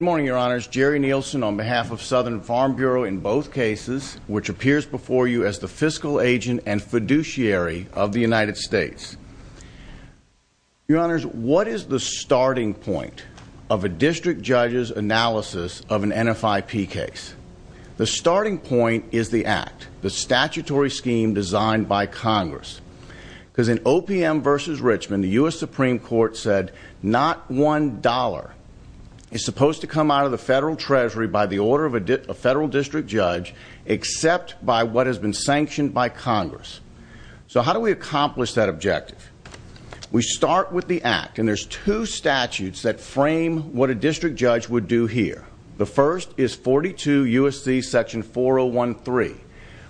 Good morning, your honors. Jerry Nielsen on behalf of Southern Farm Bureau in both cases, which appears before you as the fiscal agent and fiduciary of the United States. Your honors, what is the starting point of a district judge's analysis of an NFIP case? The starting point is the act, the statutory scheme designed by Congress. Because in OPM v. Richmond, the U.S. Supreme Court said not one dollar is supposed to come out of the federal treasury by the order of a federal district judge except by what has been sanctioned by Congress. So how do we accomplish that objective? We start with the act, and there's two statutes that frame what a district judge would do here. The first is 42 U.S.C. section 4013,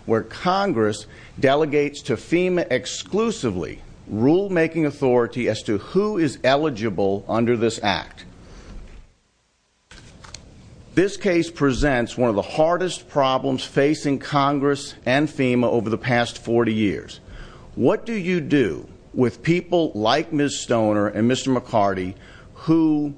where Congress delegates to FEMA exclusively rulemaking authority as to who is eligible under this act. This case presents one of the hardest problems facing Congress and FEMA over the past 40 years. What do you do with people like Ms. Stoner and Mr. McCarty who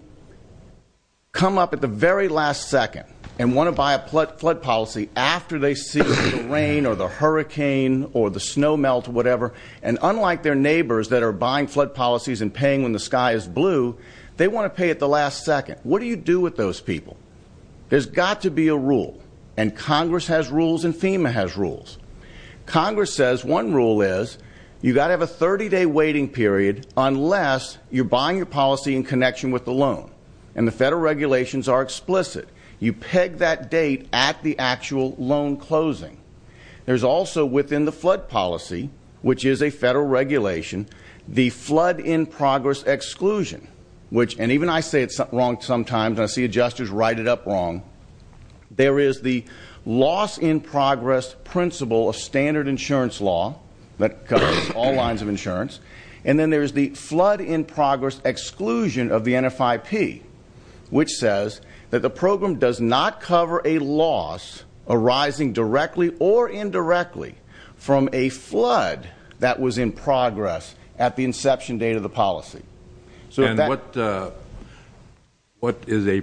come up at the very last second and want to buy a flood policy after they see the rain or the hurricane or the snow melt or whatever, and unlike their neighbors that are buying flood policies and paying when the sky is blue, they want to pay at the last second? What do you do with those people? There's got to be a rule, and Congress has rules and FEMA has rules. Congress says one rule is you've got to have a 30-day waiting period unless you're buying your policy in connection with the loan, and the federal regulations are explicit. You peg that date at the actual loan closing. There's also within the flood policy, which is a federal regulation, the flood-in-progress exclusion, which, and even I say it wrong sometimes, and I see adjusters write it up wrong, there is the loss-in-progress principle of standard insurance law that covers all lines of insurance, and then there's the flood-in-progress exclusion of the NFIP, which says that the program does not cover a loss arising directly or indirectly from a flood that was in progress at the inception date of the policy. What is a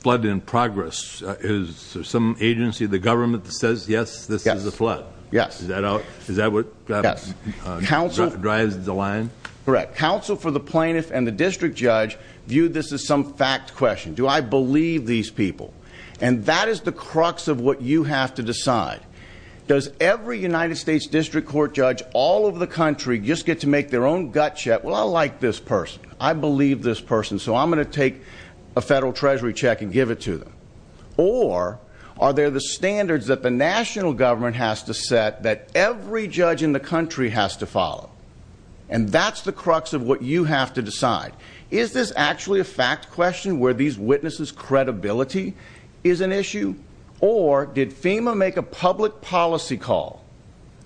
flood-in-progress? Is there some agency, the government, that says, yes, this is a flood? Yes. Is that what drives the line? Correct. Counsel for the plaintiff and the district judge view this as some fact question. Do I believe these people? And that is the crux of what you have to decide. Does every United States district court judge all over the country just get to make their own gut check? Well, I like this person. I believe this person, so I'm going to take a federal treasury check and give it to them. Or are there the standards that the national government has to every judge in the country has to follow? And that's the crux of what you have to decide. Is this actually a fact question where these witnesses' credibility is an issue? Or did FEMA make a public policy call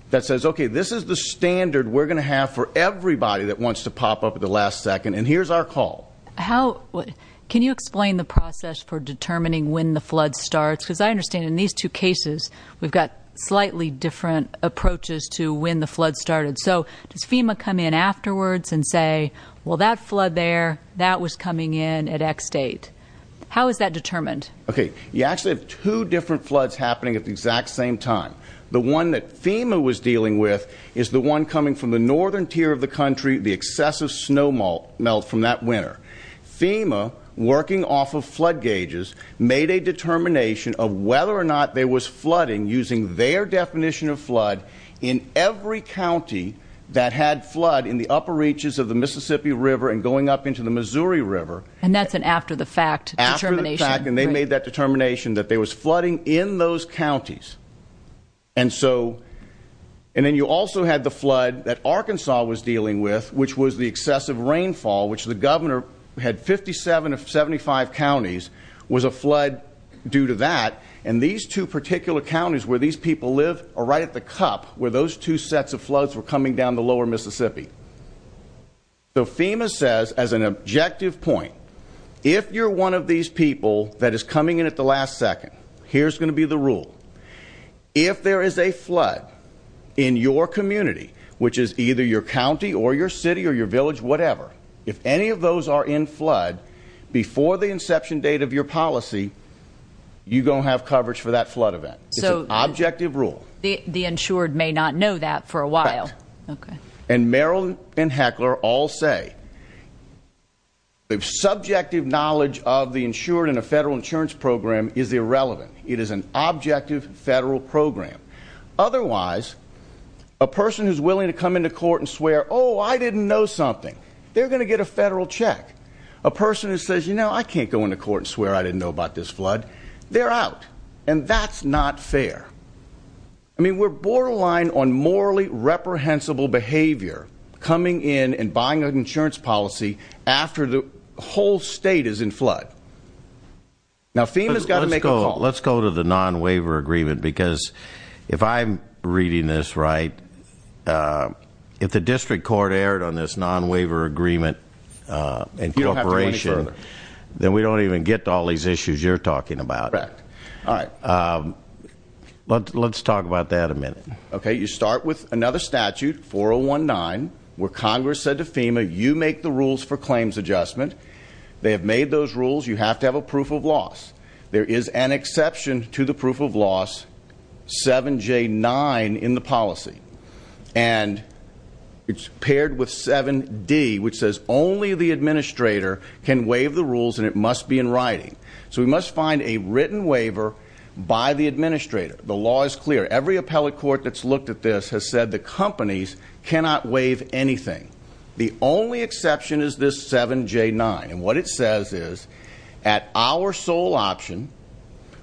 that says, okay, this is the standard we're going to have for everybody that wants to pop up at the last second, and here's our call? Can you explain the process for determining when the flood starts? Because I understand in these two cases, we've got slightly different approaches to when the flood started. So does FEMA come in afterwards and say, well, that flood there, that was coming in at X date? How is that determined? Okay. You actually have two different floods happening at the exact same time. The one that FEMA was dealing with is the one coming from the northern tier of the country, the excessive snow melt from that winter. FEMA, working off of flood gauges, made a determination of whether or not there was flooding, using their definition of flood, in every county that had flood in the upper reaches of the Mississippi River and going up into the Missouri River. And that's an after the fact determination. After the fact, and they made that determination that there was flooding in those counties. And then you also had the flood that Arkansas was dealing with, which was the excessive rainfall, which the governor had 57 of 75 counties was a and these two particular counties where these people live are right at the cup where those two sets of floods were coming down the lower Mississippi. So FEMA says as an objective point, if you're one of these people that is coming in at the last second, here's going to be the rule. If there is a flood in your community, which is either your county or your city or your village, whatever, if any of those are in flood before the inception date of your policy, you're going to have coverage for that flood event. It's an objective rule. The insured may not know that for a while. And Merrill and Heckler all say the subjective knowledge of the insured in a federal insurance program is irrelevant. It is an objective federal program. Otherwise, a person who's willing to come into court and swear, oh, I didn't know something, they're going to get a federal check. A person who says, you know, I can't go into court and swear I didn't know about this flood. They're out. And that's not fair. I mean, we're borderline on morally reprehensible behavior coming in and buying an insurance policy after the whole state is in flood. Now FEMA's got to make a call. Let's go to the non-waiver agreement, because if I'm reading this right, if the district court erred on this non-waiver agreement and corporation, then we don't even get to all these issues you're talking about. Let's talk about that a minute. Okay. You start with another statute, 4019, where Congress said to FEMA, you make the rules for claims adjustment. They have made those rules. You have to have a proof of loss. There is an exception to the proof of loss, 7J9 in the policy. And it's paired with 7D, which says only the administrator can waive the rules and it must be in writing. So we must find a written waiver by the administrator. The law is clear. Every appellate court that's looked at this has said the companies cannot waive anything. The only exception is this 7J9. And what it says is, at our sole option,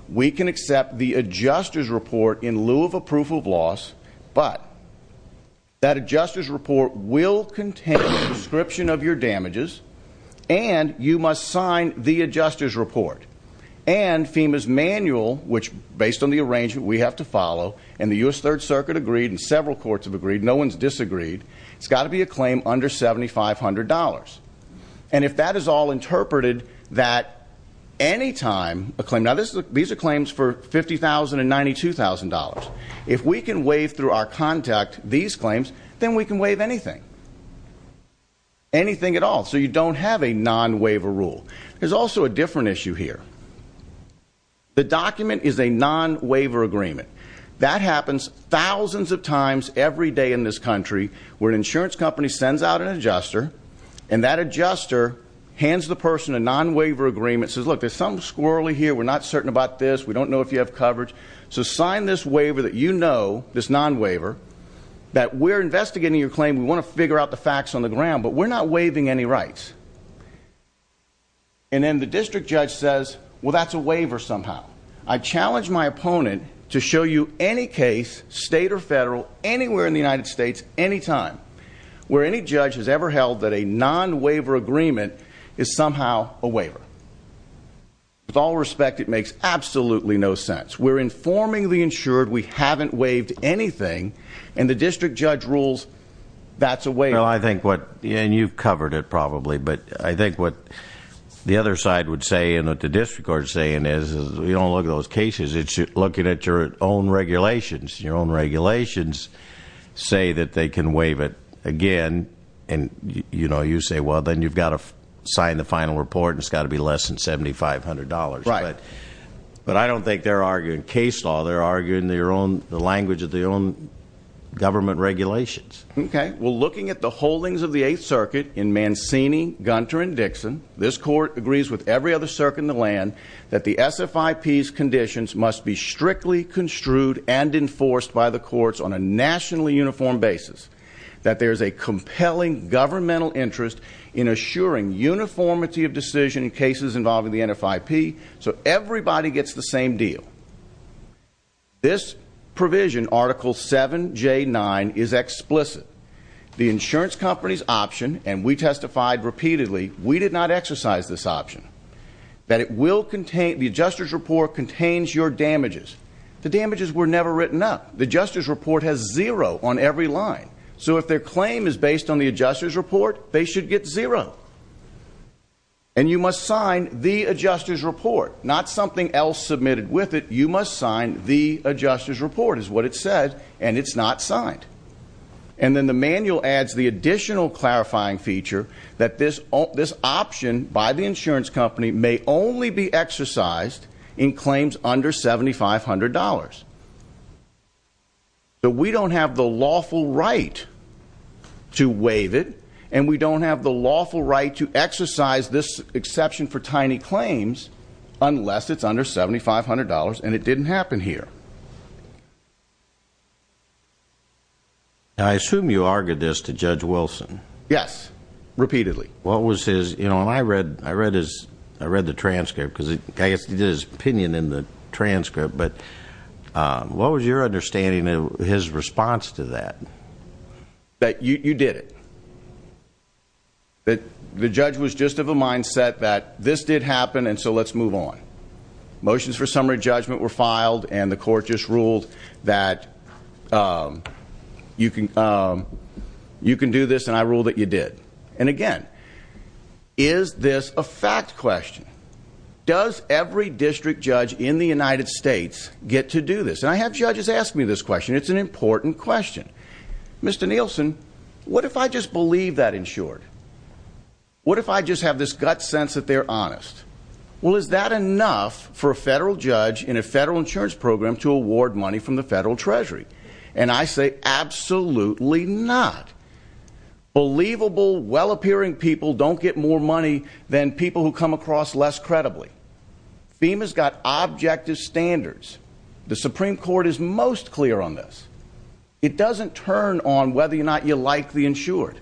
we can accept the adjuster's report in lieu of a proof of loss, but that adjuster's report will contain a description of your damages and you must sign the adjuster's report. And FEMA's manual, which based on the arrangement we have to follow, and the U.S. Third Circuit agreed and several courts have agreed, no one's disagreed, it's got to be a claim under $7,500. And if that is all interpreted, that any time a claim, now these are claims for $50,000 and $92,000. If we can waive through our contact these claims, then we can waive anything. Anything at all. So you don't have a non-waiver rule. There's also a different issue here. The document is a non-waiver agreement. That happens thousands of times every day in this country where an insurance company sends out an adjuster and that adjuster hands the person a non-waiver agreement, says look, there's something squirrely here, we're not certain about this, we don't know if you have coverage, so sign this waiver that you know, this non-waiver, that we're investigating your claim, we want to figure out the facts on the ground, but we're not waiving any rights. And then the district judge says, well that's a waiver somehow. I challenge my opponent to show you any case, state or federal, anywhere in the United States, anytime, where any judge has ever held that a non-waiver agreement is somehow a waiver. With all respect, it makes absolutely no sense. We're informing the insured we haven't waived anything, and the district judge rules that's a waiver. Well I think what, and you've covered it probably, but I think what the other side would say and what the district court is saying is, you don't look at those cases, it's looking at your own regulations. Your own regulations say that they can waive it again, and you know, you say well then you've got to sign the final report and it's got to be less than $7,500. Right. But I don't think they're arguing case law, they're arguing their own, the language of their own government regulations. Okay, well looking at the holdings of the Eighth Circuit in Mancini, Gunter, and Dixon, this court agrees with every other circuit in the land that the SFIP's conditions must be strictly construed and enforced by the courts on a nationally uniform basis. That there's a compelling governmental interest in assuring uniformity of decision in cases involving the NFIP so everybody gets the same deal. This provision, Article 7J9, is explicit. The insurance company's option, and we testified repeatedly, we did not exercise this option, that it will contain, the adjuster's report contains your damages. The damages were never written up. The adjuster's report has zero on every line. So if their claim is based on the adjuster's report, they should get zero. And you must sign the adjuster's report, not something else submitted with it. You must sign the adjuster's report is what it said, and it's not signed. And then the manual adds the additional clarifying feature that this option by the insurance company may only be exercised in claims under $7,500. But we don't have the lawful right to waive it, and we don't have the lawful right to exercise this exception for tiny claims unless it's under $7,500 and it didn't happen here. I assume you argued this to Judge Wilson. Yes, repeatedly. What was his, you know, I read, I read his, I read the transcript, because I guess he did his opinion in the transcript, but what was your understanding of his response to that? That you, you did it. That the judge was just of a mindset that this did happen, and so let's move on. Motions for summary judgment were filed, and the court just ruled that you can, um, you can do this, and I rule that you did. And again, is this a fact question? Does every district judge in the United States get to do this? And I have judges ask me this question. It's an important question. Mr. Nielsen, what if I just believe that, in short? What if I just have this gut sense that they're honest? Well, is that enough for a federal judge in a federal insurance program to award money from the federal treasury? And I say absolutely not. Believable, well-appearing people don't get more money than people who come across less credibly. FEMA's got objective standards. The Supreme Court is most clear on this. It doesn't turn on whether or not you like the insured.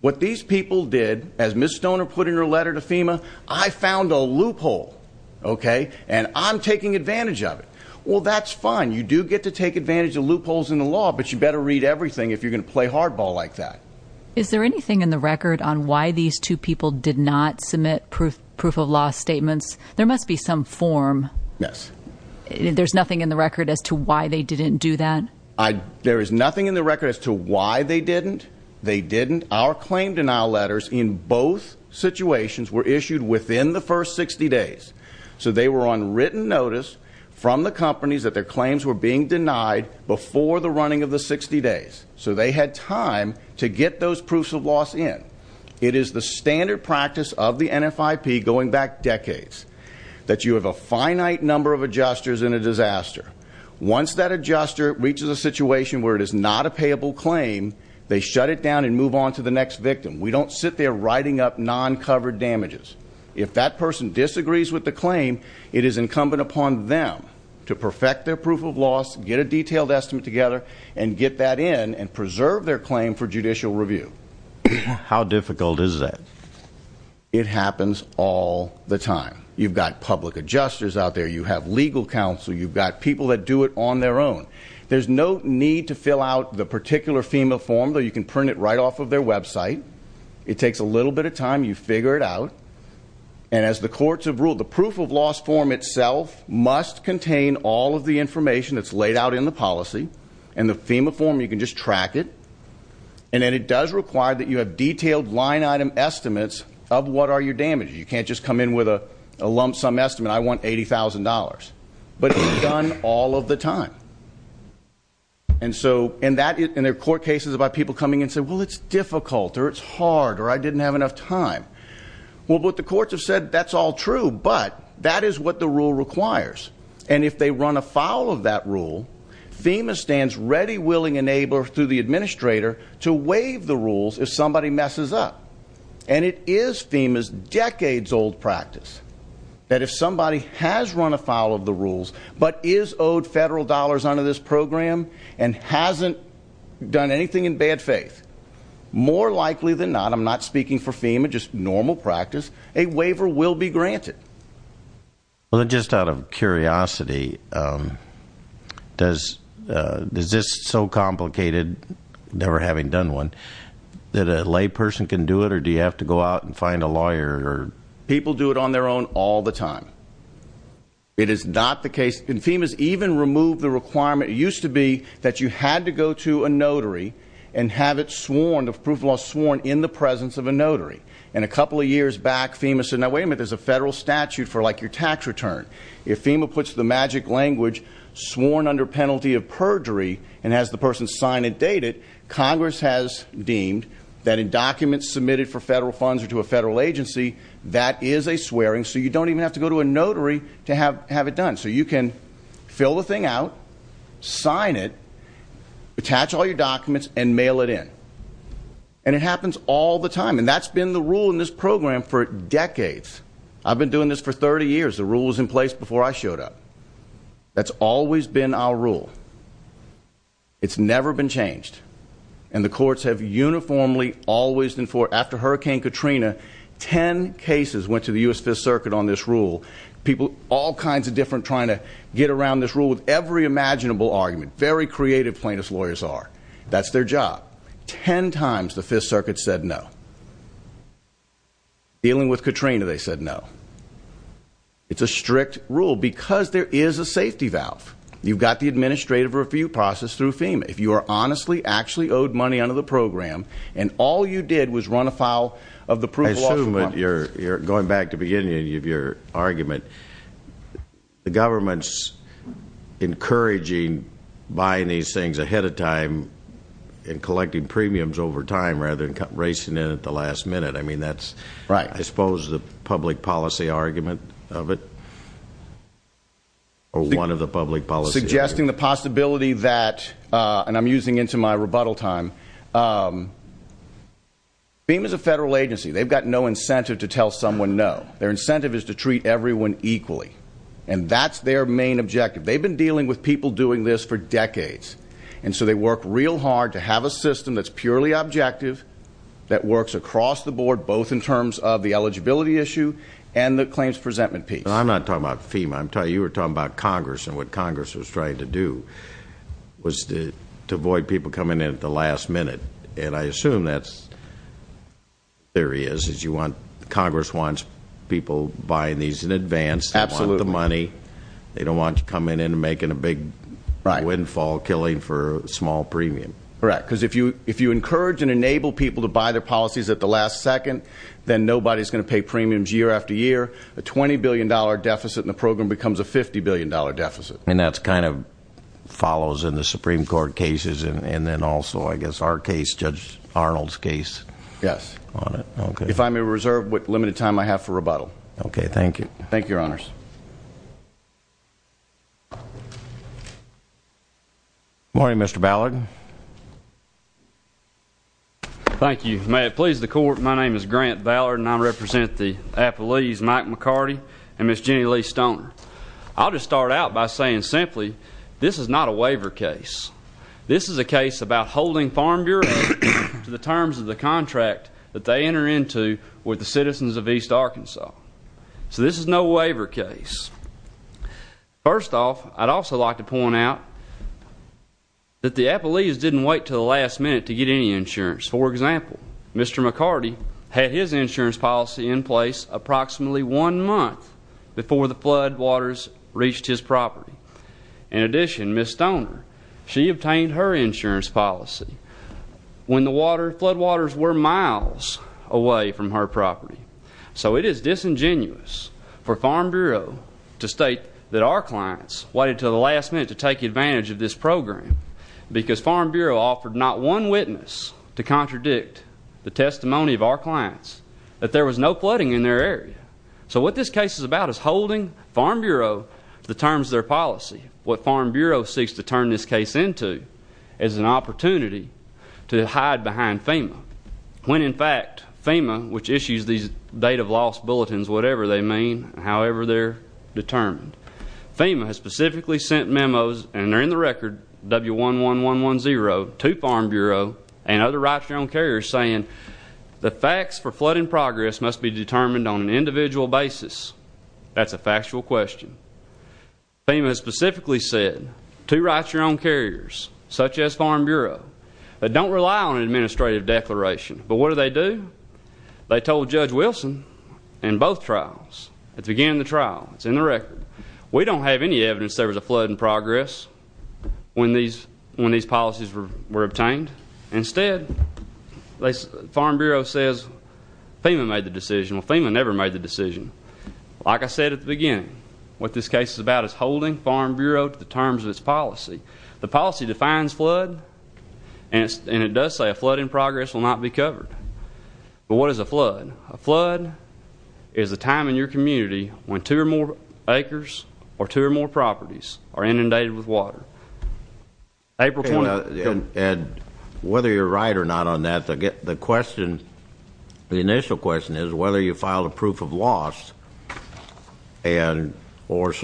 What these people did, as Ms. Stoner put it in her letter to FEMA, I found a loophole, okay, and I'm taking advantage of it. Well, that's fine. You do get to take advantage of loopholes in the law, but you better read everything if you're going to play hardball like that. Is there anything in the record on why these two people did not submit proof of law statements? There must be some form. Yes. There's nothing in the record as to why they didn't do that? There is nothing in the record as to why they didn't. They didn't. Our situations were issued within the first 60 days, so they were on written notice from the companies that their claims were being denied before the running of the 60 days, so they had time to get those proofs of laws in. It is the standard practice of the NFIP going back decades that you have a finite number of adjusters in a disaster. Once that adjuster reaches a situation where it is not a payable claim, they shut it down and move on to the next victim. We don't sit there writing up covered damages. If that person disagrees with the claim, it is incumbent upon them to perfect their proof of loss, get a detailed estimate together, and get that in and preserve their claim for judicial review. How difficult is that? It happens all the time. You've got public adjusters out there. You have legal counsel. You've got people that do it on their own. There's no need to fill out the particular FEMA form, though you can print it right off of their website. It takes a little bit of time. You figure it out. And as the courts have ruled, the proof of loss form itself must contain all of the information that's laid out in the policy. In the FEMA form, you can just track it. And then it does require that you have detailed line item estimates of what are your damages. You can't just come in with a lump sum estimate. I want $80,000. But it's done all of the time. And there are court cases about people coming and saying, well, it's difficult, or it's hard, or I didn't have enough time. Well, but the courts have said that's all true. But that is what the rule requires. And if they run afoul of that rule, FEMA stands ready, willing, and able through the administrator to waive the rules if somebody messes up. And it is FEMA's decades-old practice that if somebody has run afoul of the rules, but is owed federal dollars under this program and hasn't done anything in bad faith, more likely than not, I'm not speaking for FEMA, just normal practice, a waiver will be granted. Well, just out of curiosity, does this so complicated, never having done one, that a layperson can do it? Or do you have to go out and find a lawyer? Or people do it on their own all the time. It is not the case. And FEMA's even removed the requirement. It used to be that you had to go to a notary and have it sworn, the proof of loss sworn, in the presence of a notary. And a couple of years back, FEMA said, now, wait a minute, there's a federal statute for, like, your tax return. If FEMA puts the magic language, sworn under penalty of perjury, and has the person sign and date it, Congress has deemed that in documents submitted for federal funds or to a federal agency, that is a swearing. So you don't even have to go to a notary to have it done. So you can fill the thing out, sign it, attach all your documents, and mail it in. And it happens all the time. And that's been the rule in this program for decades. I've been doing this for 30 years. The rule was in place before I showed up. That's always been our rule. It's never been changed. And the courts have uniformly, always, and for, after Hurricane Katrina, 10 cases went to the U.S. Fifth Circuit on this rule. People, all kinds of different, trying to get around this rule with every imaginable argument. Very creative plaintiff's lawyers are. That's their job. 10 times the Fifth Circuit said no. Dealing with Katrina, they said no. It's a strict rule because there is a safety valve. You've got the administrative review process through FEMA. If you are honestly, actually owed money under the program, and all you did was run afoul of the proof of law. I assume that you're going back to the beginning of your argument. The government's encouraging buying these things ahead of time and collecting premiums over time, rather than racing in at the last minute. I mean, that's, I suppose, the public policy argument of it? Or one of the public policy arguments? The possibility that, and I'm using into my rebuttal time, FEMA's a federal agency. They've got no incentive to tell someone no. Their incentive is to treat everyone equally. And that's their main objective. They've been dealing with people doing this for decades. And so they work real hard to have a system that's purely objective, that works across the board, both in terms of the eligibility issue and the claims presentment piece. I'm not talking about FEMA. I'm talking, you were talking about Congress and what Congress was trying to do was to avoid people coming in at the last minute. And I assume that's, there he is, is you want, Congress wants people buying these in advance, they want the money, they don't want you coming in and making a big windfall, killing for a small premium. Correct. Because if you encourage and enable people to buy their policies at the last second, then nobody's going to pay premiums year after year. A $20 billion deficit in the program becomes a $50 billion deficit. And that's kind of follows in the Supreme Court cases and then also, I guess, our case, Judge Arnold's case. Yes. If I may reserve what limited time I have for rebuttal. Okay. Thank you. Thank you, Your Honors. Morning, Mr. Ballard. Thank you. May it please the Court, my name is Grant Ballard and I represent the Appalachians, Mike McCarty and Miss Jenny Lee Stoner. I'll just start out by saying simply, this is not a waiver case. This is a case about holding Farm Bureau to the terms of the contract that they enter into with the citizens of East Arkansas. So this is no waiver case. First off, I'd also like to point out that the Appalachians didn't wait to the last minute to get any insurance. For example, Mr. McCarty had his insurance policy in place approximately one month before the floodwaters reached his property. In addition, Miss Stoner, she obtained her insurance policy when the floodwaters were miles away from her property. So it is disingenuous for Farm Bureau to state that our clients waited until the last minute to take advantage of this program because Farm Bureau offered not one witness to contradict the testimony of our clients that there was no flooding in their area. So what this case is about is holding Farm Bureau to the terms of their policy. What Farm Bureau seeks to turn this case into is an opportunity to hide behind FEMA. When in fact, FEMA, which issues these date of loss bulletins, whatever they mean, however they're determined, FEMA has specifically sent memos, and they're in the record, W11110, to Farm Bureau and other rights to your own carriers saying the facts for flooding progress must be determined on an individual basis. That's a factual question. FEMA has specifically said two rights to your own carriers, such as Farm Bureau, that don't rely on an administrative declaration. But what do they do? They told Judge Wilson in both trials, at the beginning of the trial, it's in the record, we don't have any evidence there was a flood in progress when these policies were obtained. Instead, Farm Bureau says FEMA made the decision. Well, FEMA never made the decision. Like I said at the beginning, what this case is about is holding Farm Bureau to the terms of its policy. The policy defines flood, and it does say a flood in progress will not be covered. But what is a flood? A flood is a time in your community when two or more acres or two or more properties are inundated with water. April 20th. Ed, whether you're right or not on that, the question, the initial question is whether you proof of loss. What's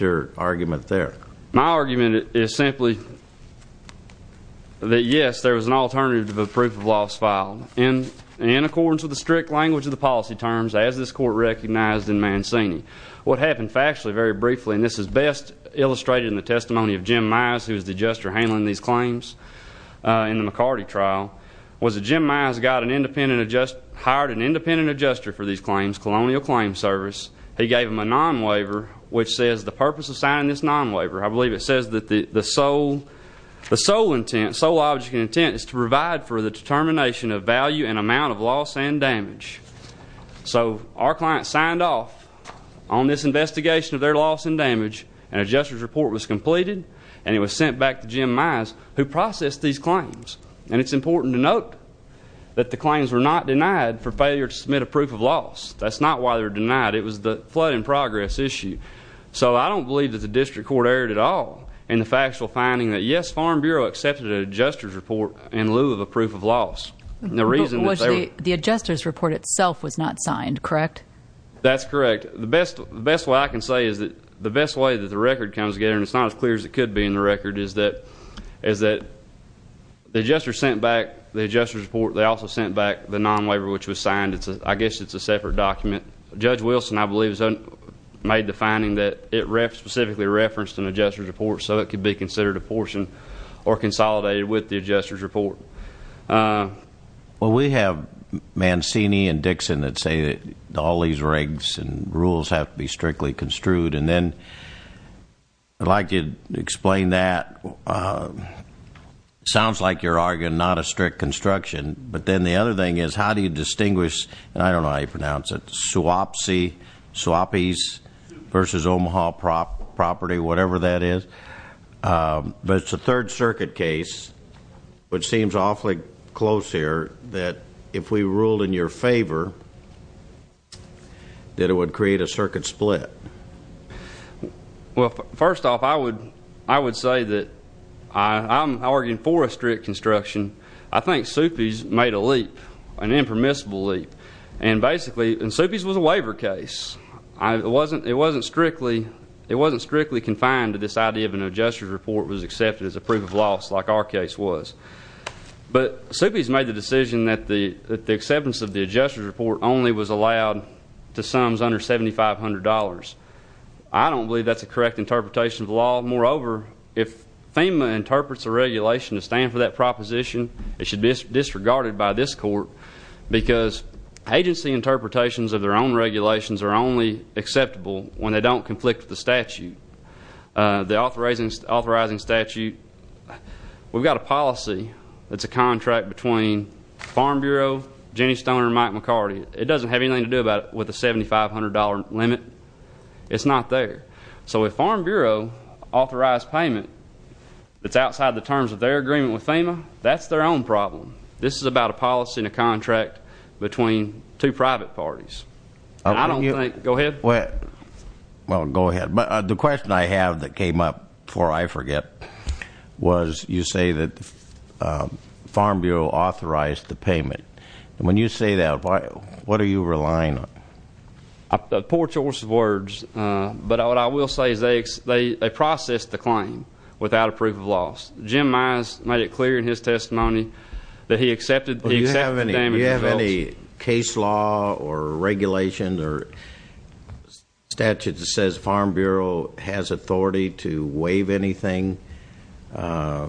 your argument there? My argument is simply that, yes, there was an alternative to the proof of loss filed in accordance with the strict language of the policy terms, as this Court recognized in Mancini. What happened factually, very briefly, and this is best illustrated in the testimony of Jim Myers, who was the adjuster handling these claims in the McCarty trial, was that Jim Myers got an independent adjuster, hired an independent adjuster for these claims, Colonial Claims Service. He gave them a non-waiver, which says the purpose of signing this non-waiver, I believe it says that the sole, the sole intent, sole object of intent is to provide for the determination of value and amount of loss and damage. So our client signed off on this investigation of their loss and damage. An adjuster's report was completed, and it was sent back to Jim Myers, who processed these claims. And it's important to for failure to submit a proof of loss. That's not why they were denied. It was the flood in progress issue. So I don't believe that the District Court erred at all in the factual finding that, yes, Farm Bureau accepted an adjuster's report in lieu of a proof of loss. The reason was the adjuster's report itself was not signed, correct? That's correct. The best way I can say is that the best way that the record comes together, and it's not as clear as it could be in the record, is that the adjuster sent back the report. They also sent back the non-waiver, which was signed. I guess it's a separate document. Judge Wilson, I believe, made the finding that it specifically referenced an adjuster's report, so it could be considered a portion or consolidated with the adjuster's report. Well, we have Mancini and Dixon that say that all these regs and rules have to be strictly construed. And then I'd like you to explain that. It sounds like you're arguing not a but then the other thing is, how do you distinguish, and I don't know how you pronounce it, Swapese versus Omaha property, whatever that is. But it's a Third Circuit case, which seems awfully close here, that if we ruled in your favor, that it would create a circuit split. Well, first off, I would say that I'm arguing for a strict construction. I think Swapese made a leap, an impermissible leap. And Swapese was a waiver case. It wasn't strictly confined to this idea of an adjuster's report was accepted as a proof of loss, like our case was. But Swapese made the decision that the acceptance of the adjuster's report only was allowed to sums under $7,500. I don't believe that's a correct interpretation of the law. Moreover, if FEMA interprets the regulation to stand for that proposition, it should be disregarded by this court, because agency interpretations of their own regulations are only acceptable when they don't conflict with the statute. The authorizing statute, we've got a policy that's a contract between Farm Bureau, Jenny Stoner, and Mike McCarty. It doesn't have anything to do with the $7,500 limit. It's not there. So if Farm Bureau authorized payment that's outside the terms of their agreement with FEMA, that's their own problem. This is about a policy and a contract between two private parties. I don't think... Go ahead. Well, go ahead. But the question I have that came up before I forget was you say that Farm Bureau authorized the payment. And when you say that, what are you relying on? A poor choice of words, but what I will say is they processed the claim without a proof of loss. Jim Myers made it clear in his testimony that he accepted the damage results. Well, do you have any case law or regulation or statute that says Farm Bureau has authority to waive anything by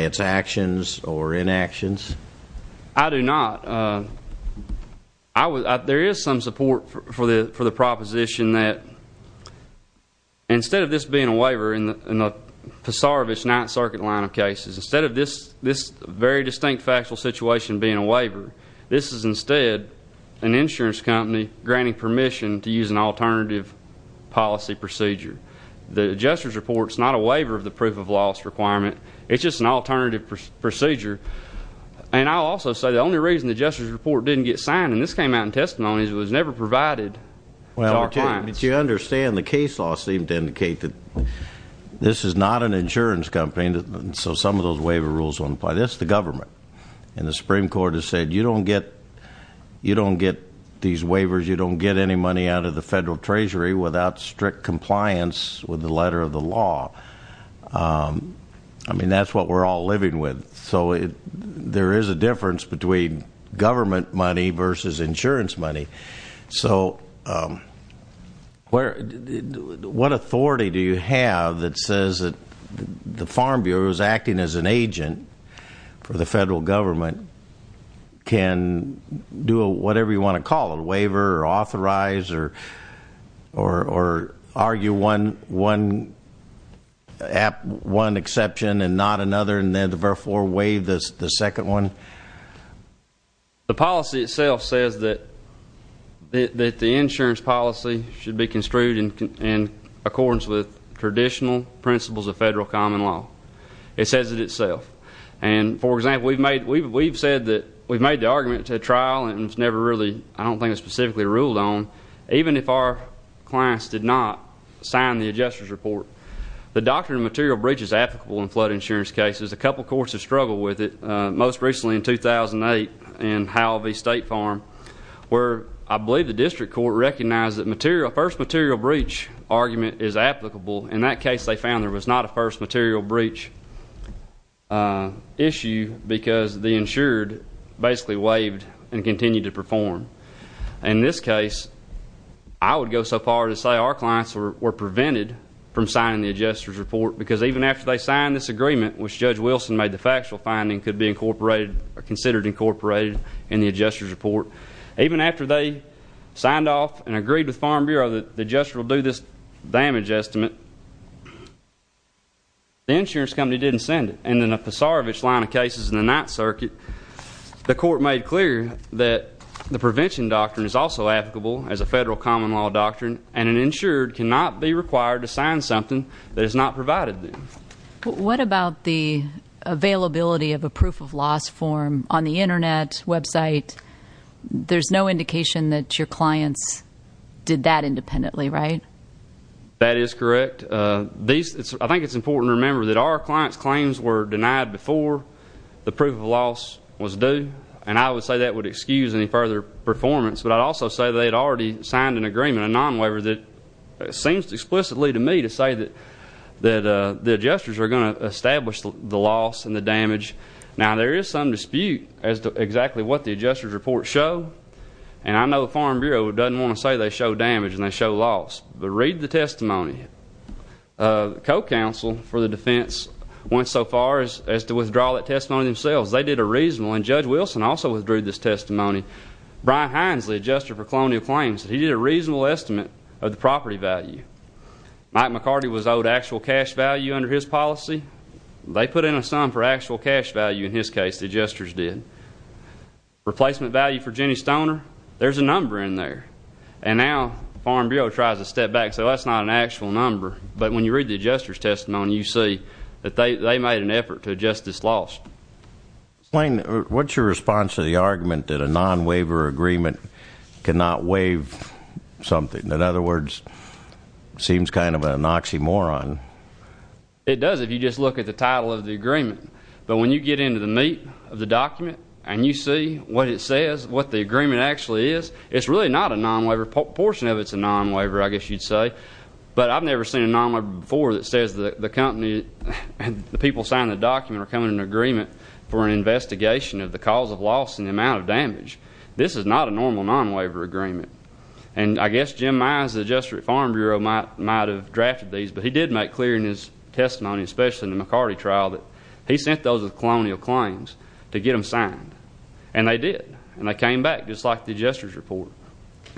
its actions or inactions? I do not. There is some support for the proposition that instead of this being a waiver in the Pissaravish Ninth Circuit line of cases, instead of this very distinct factual situation being a waiver, this is instead an insurance company granting permission to use an alternative policy procedure. The adjuster's report is not a waiver of the proof of loss requirement. It's just an alternative procedure. And I'll also say the only reason the adjuster's report didn't get signed, and this came out in testimony, is it was never provided to our clients. Well, do you understand the case law seemed to indicate that this is not an insurance company, and so some of those waiver rules apply. That's the government. And the Supreme Court has said you don't get these waivers, you don't get any money out of the Federal Treasury without strict compliance with the letter of the law. I mean, that's what we're all living with. So there is a difference between government money versus insurance money. So what authority do you have that says that farm bureaus acting as an agent for the federal government can do whatever you want to call it, waiver or authorize or argue one exception and not another, and therefore waive the second one? The policy itself says that the insurance policy should be construed in accordance with traditional principles of federal common law. It says it itself. And for example, we've said that we've made the argument to a trial, and it's never really, I don't think it's specifically ruled on, even if our clients did not sign the adjuster's report. The doctrine of material breach is applicable in flood insurance cases. A couple courts have struggled with it, most recently in 2008 in Howell v. State Farm, where I believe the district court recognized that first material breach argument is applicable. In that case, they found there was not a first material breach issue because the insured basically waived and continued to perform. In this case, I would go so far as to say our clients were prevented from signing the adjuster's report because even after they signed this agreement, which Judge Wilson made the factual finding could be incorporated or considered incorporated in the adjuster's report, even after they signed off and agreed with Farm Bureau that the adjuster will do this damage estimate, the insurance company didn't send it. And in the Pasarevich line of cases in the Ninth Circuit, the court made clear that the prevention doctrine is also applicable as a federal common law doctrine, and an insured cannot be required to sign something that is not provided to them. What about the availability of a proof of loss form on the Internet website? There's no indication that your clients did that independently, right? That is correct. I think it's important to remember that our clients' claims were denied before the proof of loss was due, and I would say that would excuse any further performance, but I'd also say they had already signed an agreement, a non-waiver, that seems explicitly to me to say that the adjusters are going to establish the loss and the damage. Now, there is some dispute as to exactly what the adjuster's report show, and I know Farm Bureau doesn't want to say they show damage and they show loss, but read the testimony. The Co-Counsel for the Defense went so far as to withdraw that testimony themselves. They did a reasonable, and Judge Wilson also withdrew this testimony. Brian Hines, the adjuster for Colonial Claims, he did a reasonable estimate of the property value. Mike McCarty was owed actual cash value under his policy. They put in a sum for actual cash value. In his case, the adjusters did. Replacement value for Jenny Stoner, there's a number in there, and now Farm Bureau tries to step back, so that's not an actual number, but when you read the adjuster's testimony, you see that they made an effort to adjust this loss. Lane, what's your response to the argument that a non-waiver agreement cannot waive something? In other words, it seems kind of an oxymoron. It does if you just look at the title of the agreement, but when you get into the meat of the document and you see what it says, what the agreement actually is, it's really not a non-waiver. A portion of it's a non-waiver, I guess you'd say, but I've never seen a non-waiver before that says the people signing the document are coming to an agreement for an investigation of the cause of loss and the amount of damage. This is not a normal non-waiver agreement, and I guess Jim Myers, the adjuster at Farm Bureau, might have drafted these, but he did make clear in his testimony, especially in the McCarty trial, that he sent those with colonial claims to get them signed, and they did, and they came back, just like the adjuster's report.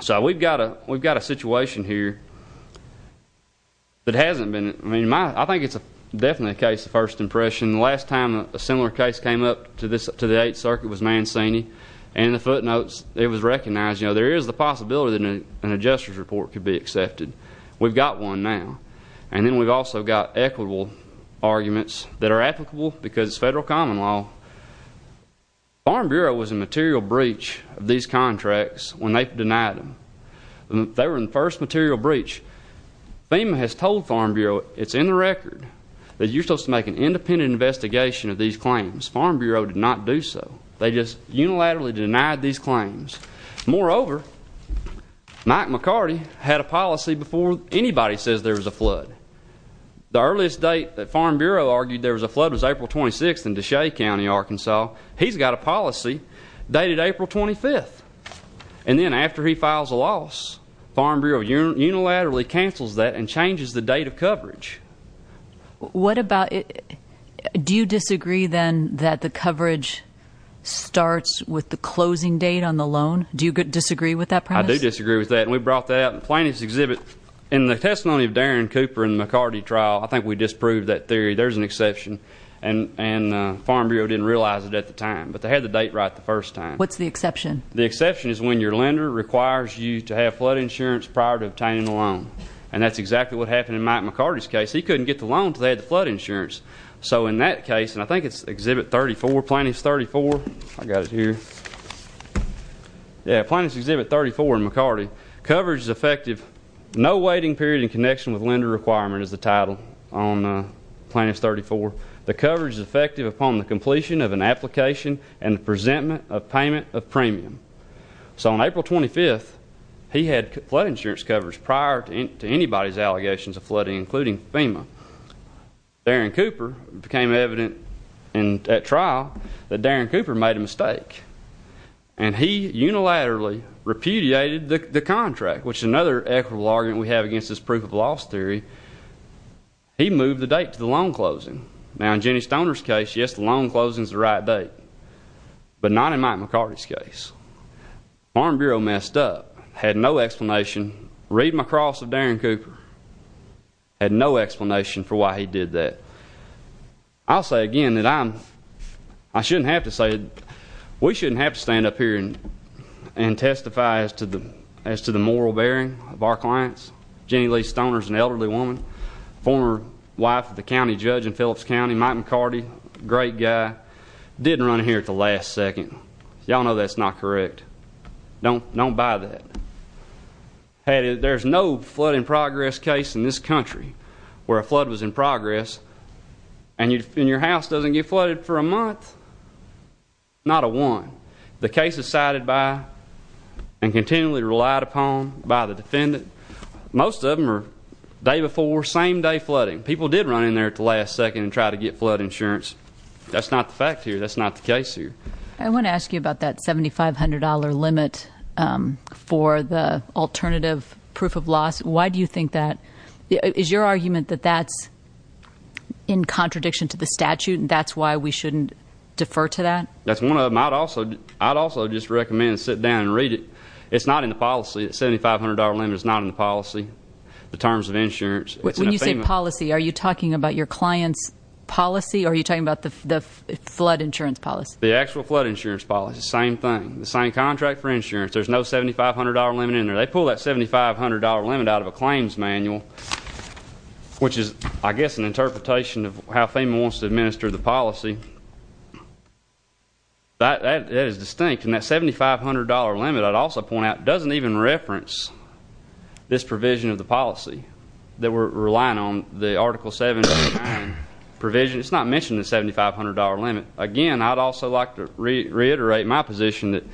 So we've got a situation here that hasn't been, I mean, I think it's definitely a case of first impression. The last time a similar case came up to the Eighth Circuit was Mancini, and the footnotes, it was recognized, you know, there is the possibility that an adjuster's report could be accepted. We've got one now, and then we've also got equitable arguments that are applicable because it's federal common law. Farm Bureau was in material breach of these contracts when they denied them. They were in the first material breach. FEMA has told Farm Bureau, it's in the record, that you're supposed to make an independent investigation of these claims. Farm Bureau unilaterally denied these claims. Moreover, Mike McCarty had a policy before anybody says there was a flood. The earliest date that Farm Bureau argued there was a flood was April 26th in Deshea County, Arkansas. He's got a policy dated April 25th, and then after he files a loss, Farm Bureau unilaterally cancels that and changes the date of coverage. What about, do you disagree then that the coverage starts with the closing date on the loan? Do you disagree with that premise? I do disagree with that, and we brought that up in the plaintiff's exhibit. In the testimony of Darren Cooper in the McCarty trial, I think we disproved that theory. There's an exception, and Farm Bureau didn't realize it at the time, but they had the date right the first time. What's the exception? The exception is when your lender requires you to have flood insurance prior to obtaining a loan, and that's exactly what happened in Mike McCarty's case. He couldn't get the loan until they had the flood insurance. So in that case, and I think it's Exhibit 34, Plaintiff's 34, I got it here. Yeah, Plaintiff's Exhibit 34 in McCarty. Coverage is effective, no waiting period in connection with lender requirement is the title on Plaintiff's 34. The coverage is effective upon the completion of an application and the presentment of payment of premium. So on April 25th, he had flood insurance coverage prior to anybody's allegations of FEMA. Darren Cooper became evident in that trial that Darren Cooper made a mistake, and he unilaterally repudiated the contract, which is another equitable argument we have against this proof of loss theory. He moved the date to the loan closing. Now, in Jenny Stoner's case, yes, the loan closing is the right date, but not in Mike McCarty's case. Farm Bureau messed up, had no explanation, read my cross of Darren Cooper, had no explanation for why he did that. I'll say again that I'm, I shouldn't have to say it, we shouldn't have to stand up here and testify as to the, as to the moral bearing of our clients. Jenny Lee Stoner's an elderly woman, former wife of the county judge in Phillips County, Mike McCarty, great guy, didn't run here at the last second. Y'all know that's not correct. Don't, don't buy that. Had it, there's no flood in progress case in this country where a flood was in progress, and you, and your house doesn't get flooded for a month, not a one. The cases cited by and continually relied upon by the defendant, most of them are day before, same day flooding. People did run in there at the last second and try to get flood insurance. That's not the fact here. That's not the case here. I want to ask you about that $7,500 limit for the alternative proof of loss. Why do you think that, is your argument that that's in contradiction to the statute and that's why we shouldn't defer to that? That's one of them. I'd also, I'd also just recommend sit down and read it. It's not in the policy. The $7,500 limit is not in the policy, the terms of insurance. When you say policy, are you talking about your client's policy, or are you talking about the flood insurance policy? The actual flood insurance policy, same thing. The same contract for insurance. There's no $7,500 limit in there. They pull that $7,500 limit out of a claims manual, which is, I guess, an interpretation of how FEMA wants to administer the policy. That, that is distinct, and that $7,500 limit, I'd also point out, doesn't even reference this provision of the policy that we're relying on. The article seven provision, it's not mentioning the $7,500 limit. Again, I'd also like to reiterate my position that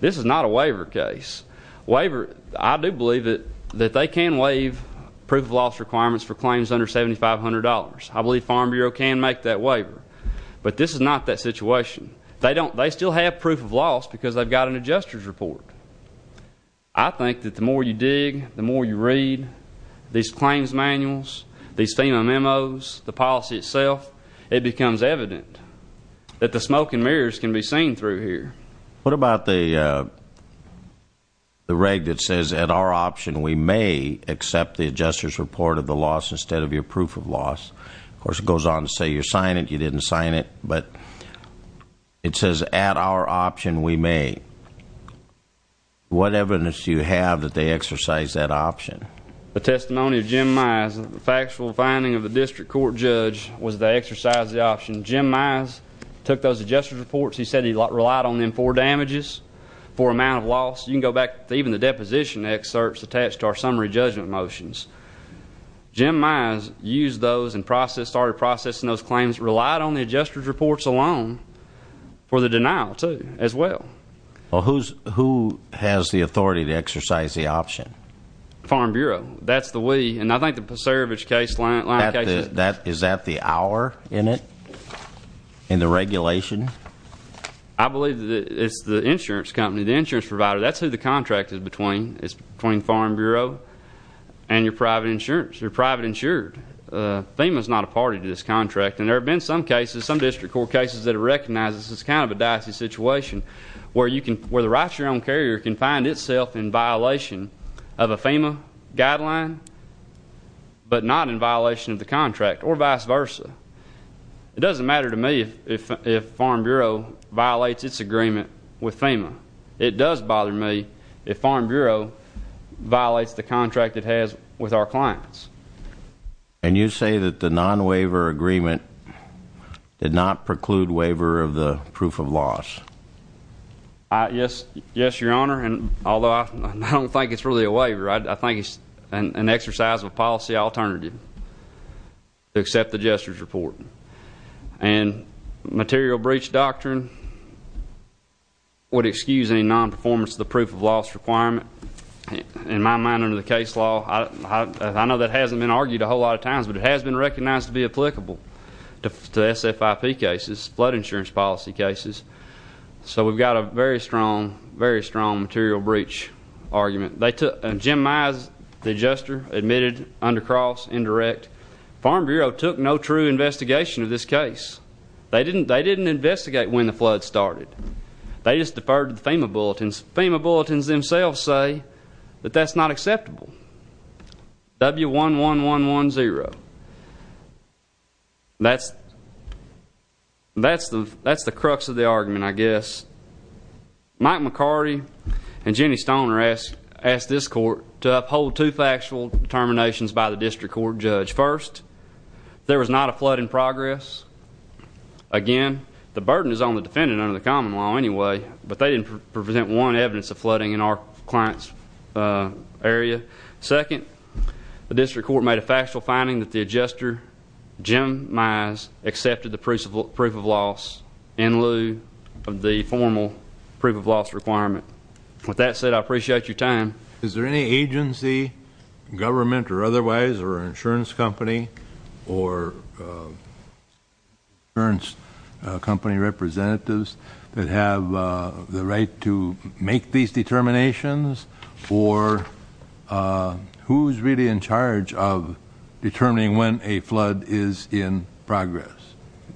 this is not a waiver case. Waiver, I do believe that, that they can waive proof of loss requirements for claims under $7,500. I believe Farm Bureau can make that waiver, but this is not that situation. They don't, they still have proof of loss because they've got an adjuster's report. I think that the more you dig, the more you read these claims manuals, these FEMA memos, the policy itself, it becomes evident that the smoke and mirrors can be seen through here. What about the, the reg that says, at our option, we may accept the adjuster's report of the loss instead of your proof of loss? Of course, it goes on to say you're signing it, you didn't sign it, but it says, at our option, we may. What evidence do you have that they exercise that option? The testimony of Jim Mize, the factual finding of the district court judge, was they exercise the option. Jim Mize took those adjuster's reports, he said he relied on them for damages, for amount of loss. You can go back to even the deposition excerpts attached to our summary judgment motions. Jim Mize used those and processed, started processing those claims, relied on the adjuster's reports alone for the denial too, as well. Well, who's, who has the Farm Bureau? That's the we, and I think the Pasarevich case line, line case, that, is that the our in it, in the regulation? I believe that it's the insurance company, the insurance provider, that's who the contract is between, it's between Farm Bureau and your private insurance, you're private insured. FEMA's not a party to this contract, and there have been some cases, some district court cases that have recognized this as kind of a dicey situation, where you can, where the right to your own carrier can find itself in FEMA guideline, but not in violation of the contract, or vice versa. It doesn't matter to me if, if Farm Bureau violates its agreement with FEMA. It does bother me if Farm Bureau violates the contract it has with our clients. And you say that the non-waiver agreement did not preclude waiver of the proof of loss? I, yes, yes, your honor, and although I don't think it's really a waiver, I, I think it's an, an exercise of a policy alternative to accept the Jester's report. And material breach doctrine would excuse any non-performance of the proof of loss requirement. In my mind, under the case law, I, I, I know that hasn't been argued a whole lot of times, but it has been recognized to be applicable to SFIP cases, flood insurance policy cases. So we've got a very strong, very strong material breach argument. They took, Jim Mize, the Jester, admitted under cross, indirect. Farm Bureau took no true investigation of this case. They didn't, they didn't investigate when the flood started. They just deferred to the FEMA bulletins. FEMA bulletins themselves say that that's not acceptable. W11110. That's, that's the, that's the crux of the argument, I guess. Mike McCarty and Jenny Stoner asked, asked this court to uphold two factual determinations by the district court judge. First, there was not a flood in progress. Again, the burden is on the defendant under the common law anyway, but they didn't present one evidence of flooding in our client's area. Second, the district court made a factual finding that the Jester, Jim Mize, accepted the proof of loss in lieu of the formal proof of loss requirement. With that said, I appreciate your time. Is there any agency, government or otherwise, or an insurance company or insurance company representatives that have the right to make these determinations? Or who's really in charge of determining when a flood is in progress?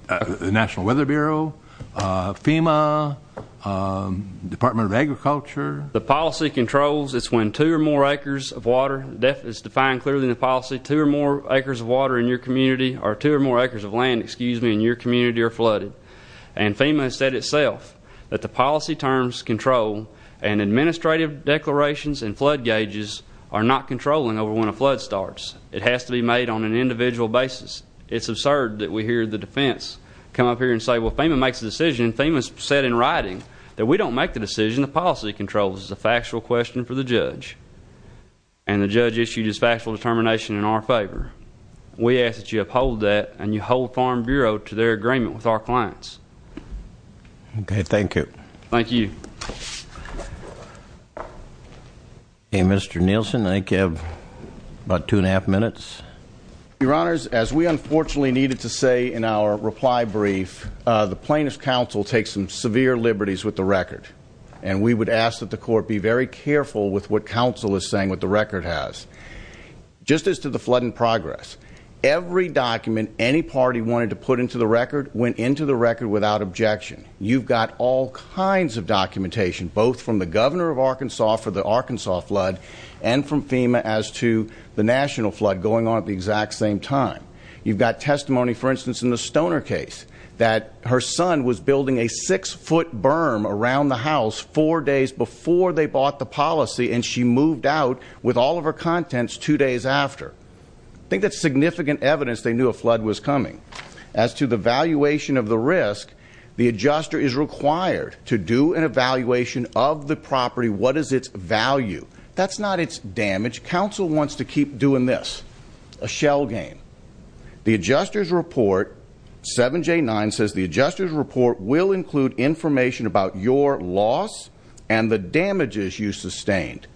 The National Weather Bureau, FEMA, Department of Agriculture? The policy controls, it's when two or more acres of water, that is defined clearly in the policy, two or more acres of water in your community, or two or more acres of land, excuse me, in your community are flooded. And FEMA has said itself that the policy terms control and administrative declarations and flood gauges are not controlling over when a flood starts. It has to be made on an individual basis. It's absurd that we hear the defense come up here and say, well, FEMA makes a decision. FEMA said in writing that we don't make the decision, the policy controls. It's a factual question for the judge. And the judge issued his factual determination in our favor. We ask that you uphold that and you hold Farm Bureau to their clients. Okay, thank you. Thank you. Okay, Mr. Nielsen, I think you have about two and a half minutes. Your Honors, as we unfortunately needed to say in our reply brief, the plaintiff's counsel takes some severe liberties with the record. And we would ask that the court be very careful with what counsel is saying with the record has. Just as to the flood in progress, every document any record without objection. You've got all kinds of documentation, both from the governor of Arkansas for the Arkansas flood and from FEMA as to the national flood going on at the exact same time. You've got testimony, for instance, in the Stoner case that her son was building a six-foot berm around the house four days before they bought the policy and she moved out with all of her contents two days after. I think that's significant evidence they knew a flood was coming. As to the evaluation of the risk, the adjuster is required to do an evaluation of the property. What is its value? That's not its damage. Counsel wants to keep doing this, a shell game. The adjuster's report, 7J9, says the adjuster's report will include information about your loss and the damages you sustained.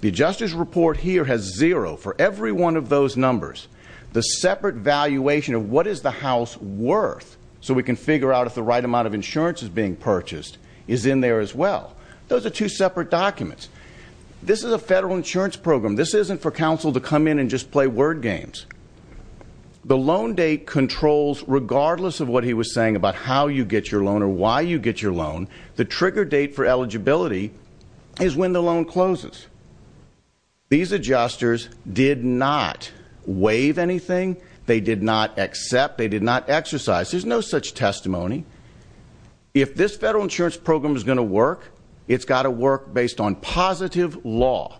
The adjuster's report here has zero for every one of those numbers. The separate valuation of what is the house worth, so we can figure out if the right amount of insurance is being purchased, is in there as well. Those are two separate documents. This is a federal insurance program. This isn't for counsel to come in and just play word games. The loan date controls, regardless of what he was saying about how you get your loan or why you get your loan, the trigger date for eligibility is when the loan closes. These adjusters did not waive anything. They did not accept. They did not exercise. There's no such testimony. If this federal insurance program is going to work, it's got to work based on positive law.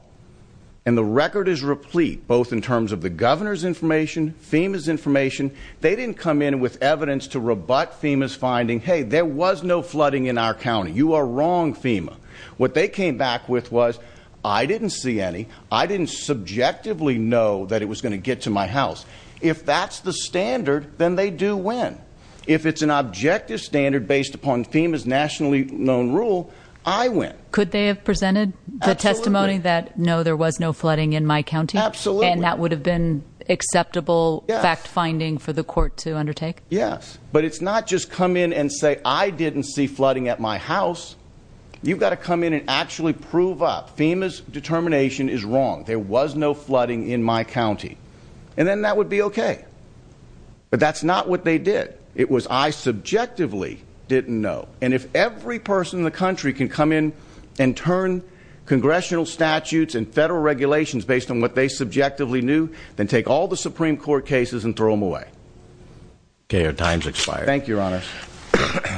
And the record is replete, both in terms of the governor's information, FEMA's information. They didn't come in with evidence to rebut FEMA's finding, hey, there was no flooding in our county. You are wrong, FEMA. What they came back with was, I didn't see any. I didn't subjectively know that it was going to get to my house. If that's the standard, then they do win. If it's an objective standard based upon FEMA's nationally known rule, I win. Could they have presented the testimony that, no, there was no flooding in my county? Absolutely. And that would have been acceptable fact finding for the court to undertake? Yes. But it's not just come in and say, I didn't see flooding at my house. You've got to come in and actually prove up. FEMA's determination is wrong. There was no flooding in my county. And then that would be okay. But that's not what they did. It was, I subjectively didn't know. And if every person in the country can come in and turn congressional statutes and federal regulations based on what they subjectively knew, then take all the Supreme Court cases and throw them away. Okay, your time's expired. Thank you, Your Honor.